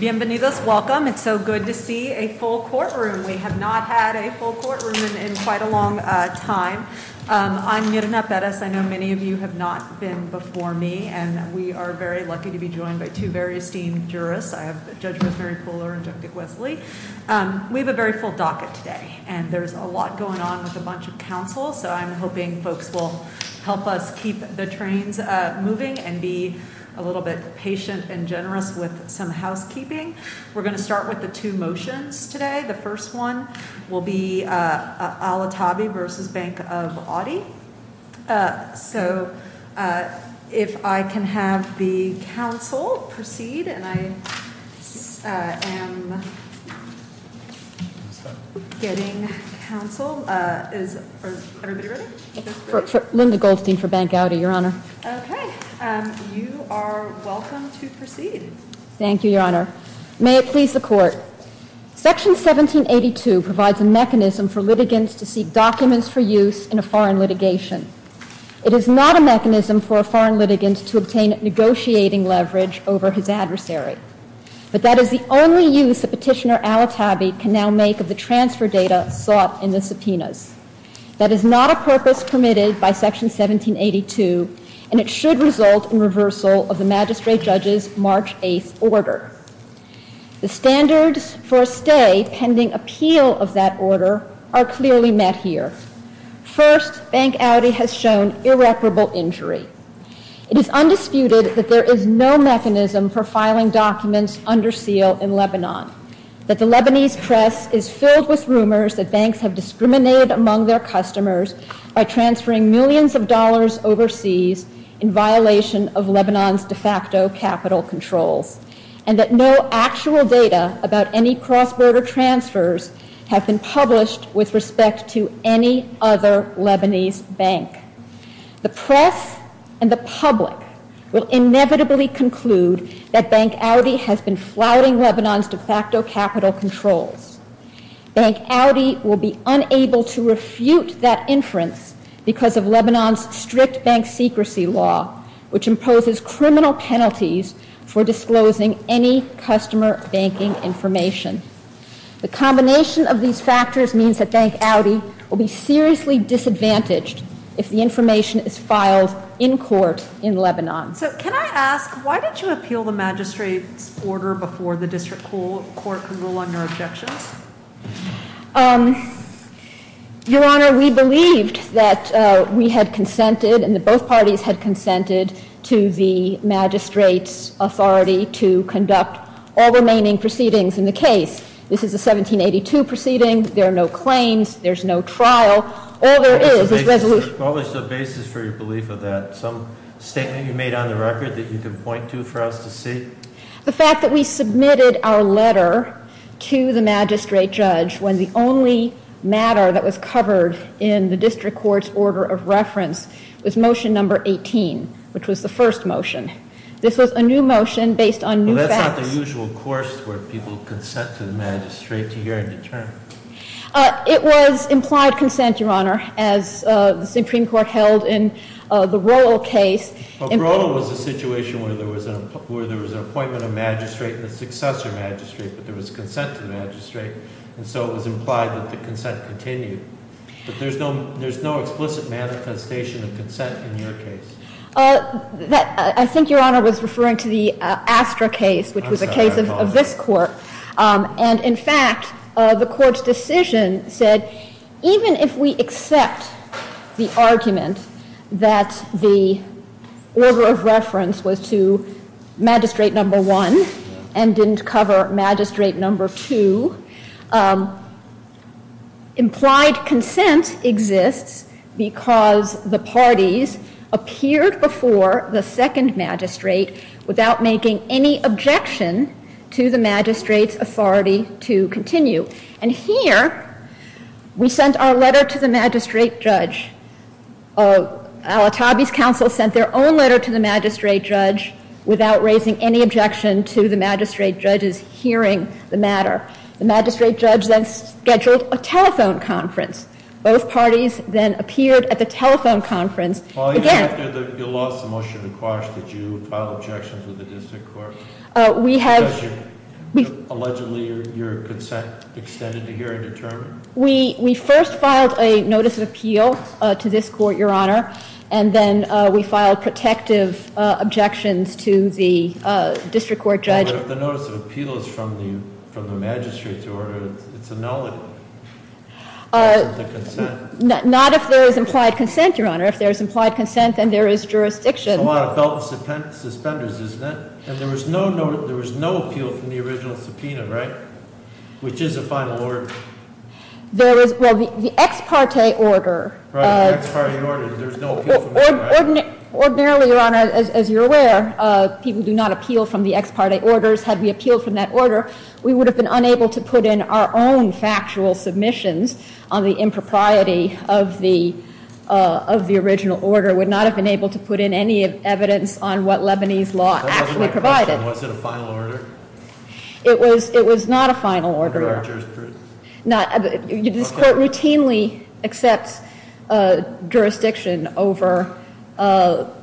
Bienvenidos, welcome. It's so good to see a full courtroom. We have not had a full courtroom in quite a long time. I'm Myrna Perez. I know many of you have not been before me, and we are very lucky to be joined by two very esteemed jurists. I have Judge Rosemary Pooler and Judge Dick Wesley. We have a very full docket today, and there's a lot going on with a bunch of counsel. So I'm hoping folks will help us keep the trains moving and be a little bit patient and Generous with some housekeeping. We're going to start with the two motions today. The first one. Linda Goldstein for Bank Gowdy, Your Honor. You are welcome to proceed. Thank you, Your Honor. May it please the Court. Section 1782 provides a mechanism for litigants to seek documents for use in a foreign litigation. It is not a mechanism for a foreign litigant to obtain negotiating leverage over his adversary. But that is the only use that Petitioner Al-Attabi can now make of the transfer data sought in the subpoenas. That is not a purpose permitted by Section 1782, and it should result in reversal of the magistrate judge's March 8th order. The standards for a stay pending appeal of that order are clearly met here. First, Bank Gowdy has shown irreparable injury. It is undisputed that there is no mechanism for filing documents under seal in Lebanon, that the Lebanese press is filled with rumors that banks have discriminated among their customers by transferring millions of dollars overseas in violation of Lebanon's de facto capital controls, and that no actual data about any cross-border transfers have been published with respect to any other Lebanese bank. The press and the public will inevitably conclude that Bank Gowdy has been flouting Lebanon's de facto capital controls. Bank Gowdy will be unable to refute that inference because of Lebanon's strict bank secrecy law, which imposes criminal penalties for disclosing any customer banking information. The combination of these factors means that Bank Gowdy will be seriously disadvantaged if the information is filed in court in Lebanon. So can I ask, why did you appeal the magistrate's order before the district court could rule on your objections? Your Honor, we believed that we had consented and that both parties had consented to the magistrate's authority to conduct all remaining proceedings in the case. This is a 1782 proceeding. There are no claims. There's no trial. All there is is resolution. What was the basis for your belief of that? Some statement you made on the record that you can point to for us to see? The fact that we submitted our letter to the magistrate judge when the only matter that was covered in the district court's order of reference was motion number 18, which was the first motion. This was a new motion based on new facts. Well, that's not the usual course where people consent to the magistrate to hear and determine. It was implied consent, Your Honor, as the Supreme Court held in the Royal case. But Royal was a situation where there was an appointment of magistrate and a successor magistrate, but there was consent to the magistrate. And so it was implied that the consent continued. But there's no explicit manifestation of consent in your case. I think Your Honor was referring to the Astra case, which was a case of this court. And in fact, the court's decision said even if we accept the argument that the order of reference was to magistrate number one and didn't cover magistrate number two, implied consent exists because the parties appeared before the second magistrate without making any objection to the magistrate's authority to continue. And here, we sent our letter to the magistrate judge. Alitabi's counsel sent their own letter to the magistrate judge without raising any objection to the magistrate judge's hearing the matter. The magistrate judge then scheduled a telephone conference. Both parties then appeared at the telephone conference. Again- Well, even after you lost the motion to quash, did you file objections with the district court? We have- Because allegedly your consent extended to hear and determine? We first filed a notice of appeal to this court, Your Honor. And then we filed protective objections to the district court judge. But if the notice of appeal is from the magistrate's order, it's a no. It isn't the consent. Not if there is implied consent, Your Honor. If there is implied consent, then there is jurisdiction. It's a lot of belt and suspenders, isn't it? And there was no appeal from the original subpoena, right? Which is a final order. Well, the ex parte order- Right, the ex parte order. There was no appeal from the- Ordinarily, Your Honor, as you're aware, people do not appeal from the ex parte orders. Had we appealed from that order, we would have been unable to put in our own factual submissions on the impropriety of the original order. We would not have been able to put in any evidence on what Lebanese law actually provided. Was it a final order? It was not a final order. No jurisdiction? No, this court routinely accepts jurisdiction over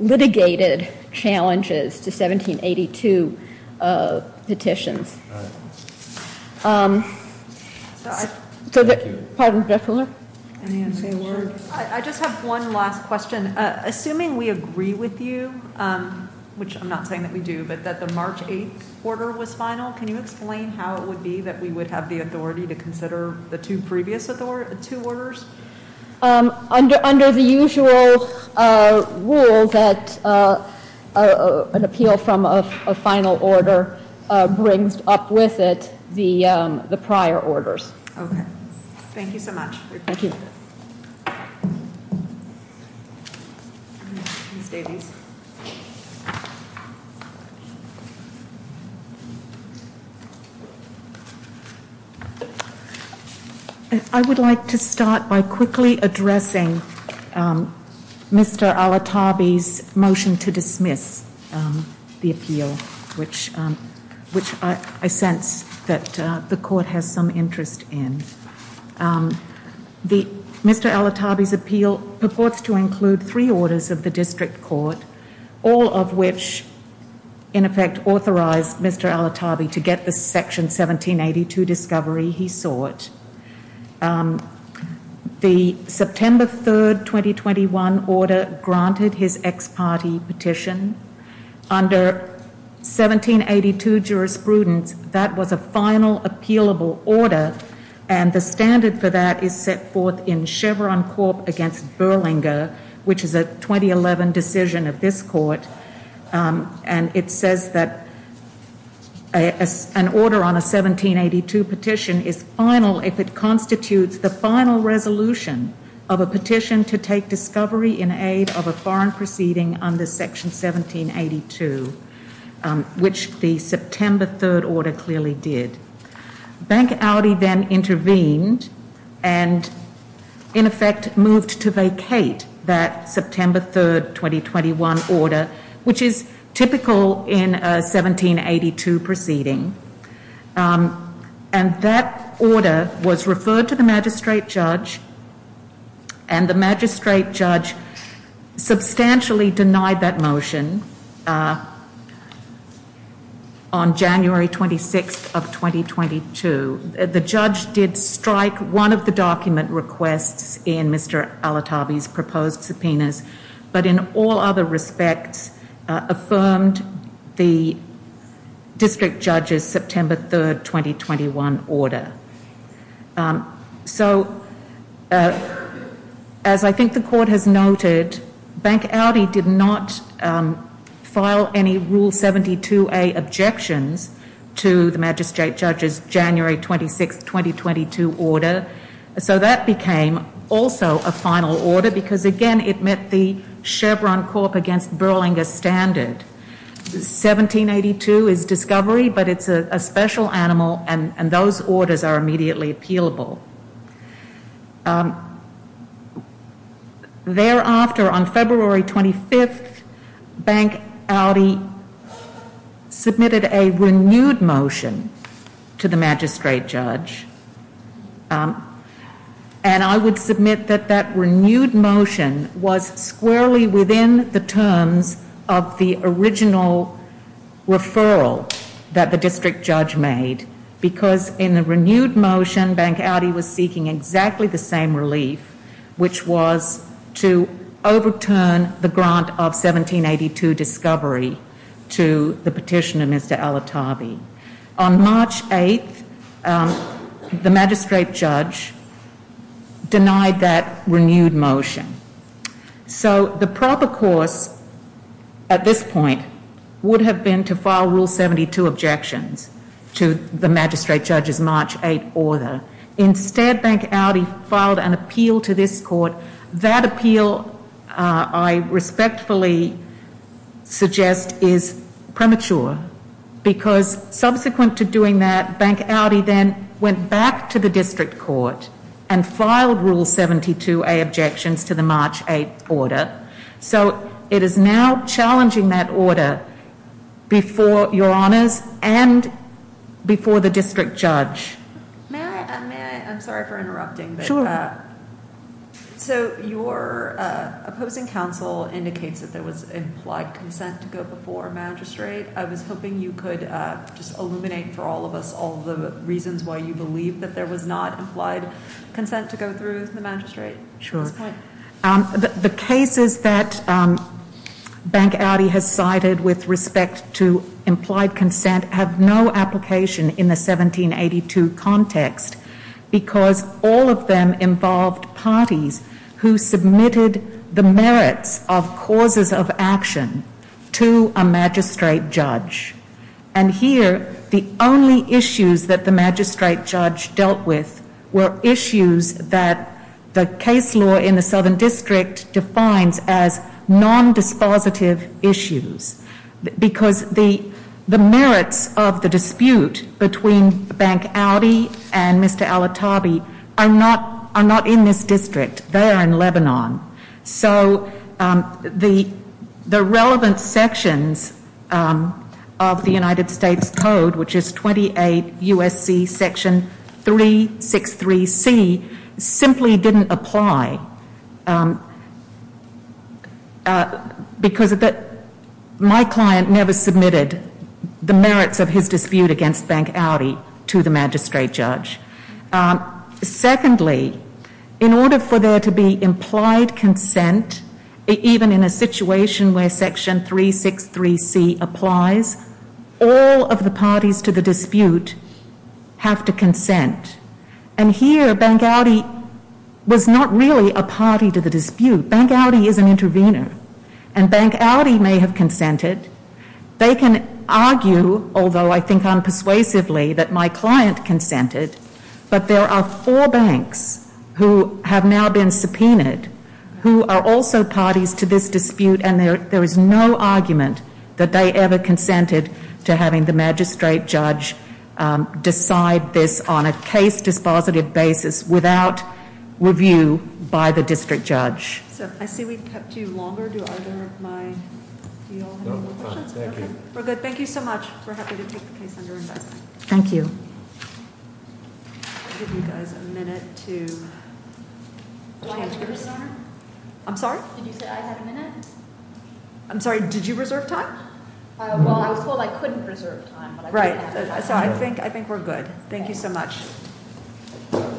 litigated challenges to 1782 petitions. I just have one last question. Assuming we agree with you, which I'm not saying that we do, but that the March 8th order was final, can you explain how it would be that we would have the authority to consider the two previous two orders? Under the usual rules that an appeal from a final order brings up with it the prior orders. Okay. Thank you so much. Thank you. I would like to start by quickly addressing Mr. Al-Atabi's motion to dismiss the appeal, which I sense that the court has some interest in. Mr. Al-Atabi's appeal purports to include three orders of the district court, all of which, in effect, authorized Mr. Al-Atabi to get the section 1782 discovery he sought. The September 3rd, 2021 order granted his ex-party petition. Under 1782 jurisprudence, that was a final appealable order, and the standard for that is set forth in Chevron Corp. against Berlinger, which is a 2011 decision of this court, and it says that an order on a 1782 petition is final if it constitutes the final resolution of a petition to take discovery in aid of a foreign proceeding under section 1782, which the September 3rd order clearly did. Bank Audi then intervened and, in effect, moved to vacate that September 3rd, 2021 order, which is typical in a 1782 proceeding, and that order was referred to the magistrate judge, and the magistrate judge substantially denied that motion on January 26th of 2022. The judge did strike one of the document requests in Mr. Al-Atabi's proposed subpoenas, but in all other respects affirmed the district judge's September 3rd, 2021 order. So, as I think the court has noted, Bank Audi did not file any Rule 72a objections to the magistrate judge's January 26th, 2022 order, so that became also a final order because, again, it met the Chevron Corp. against Berlinger standard. 1782 is discovery, but it's a special animal, and those orders are immediately appealable. Thereafter, on February 25th, Bank Audi submitted a renewed motion to the magistrate judge, and I would submit that that renewed motion was squarely within the terms of the original referral that the district judge made because, in the renewed motion, Bank Audi was seeking exactly the same relief, which was to overturn the grant of 1782 discovery to the petition of Mr. Al-Atabi. On March 8th, the magistrate judge denied that renewed motion. So, the proper course at this point would have been to file Rule 72 objections to the magistrate judge's March 8th order. Instead, Bank Audi filed an appeal to this court. That appeal, I respectfully suggest, is premature because, subsequent to doing that, Bank Audi then went back to the district court and filed Rule 72a objections to the March 8th order. So, it is now challenging that order before your honors and before the district judge. May I? I'm sorry for interrupting. Sure. So, your opposing counsel indicates that there was implied consent to go before a magistrate. I was hoping you could just illuminate for all of us all the reasons why you believe that there was not implied consent to go through the magistrate. Sure. The cases that Bank Audi has cited with respect to implied consent have no application in the 1782 context because all of them involved parties who submitted the merits of causes of action to a magistrate judge. And here, the only issues that the magistrate judge dealt with were issues that the case law in the Southern District defines as non-dispositive issues because the merits of the dispute between Bank Audi and Mr. Al-Atabi are not in this district. They are in Lebanon. So, the relevant sections of the United States Code, which is 28 U.S.C. section 363C, simply didn't apply because my client never submitted the merits of his dispute against Bank Audi to the magistrate judge. Secondly, in order for there to be implied consent, even in a situation where section 363C applies, all of the parties to the dispute have to consent. And here, Bank Audi was not really a party to the dispute. Bank Audi is an intervener, and Bank Audi may have consented. They can argue, although I think unpersuasively, that my client consented, but there are four banks who have now been subpoenaed who are also parties to this dispute, and there is no argument that they ever consented to having the magistrate judge decide this on a case-dispositive basis without review by the district judge. So, I see we've kept you longer. Do either of you have any more questions? No, we're good. Thank you. We're good. Thank you so much. We're happy to take the case under investment. Thank you. I'll give you guys a minute to change gears. Do I have a minute, Your Honor? I'm sorry? Did you say I had a minute? I'm sorry, did you reserve time? Well, I was told I couldn't reserve time. Right. So, I think we're good. Thank you so much.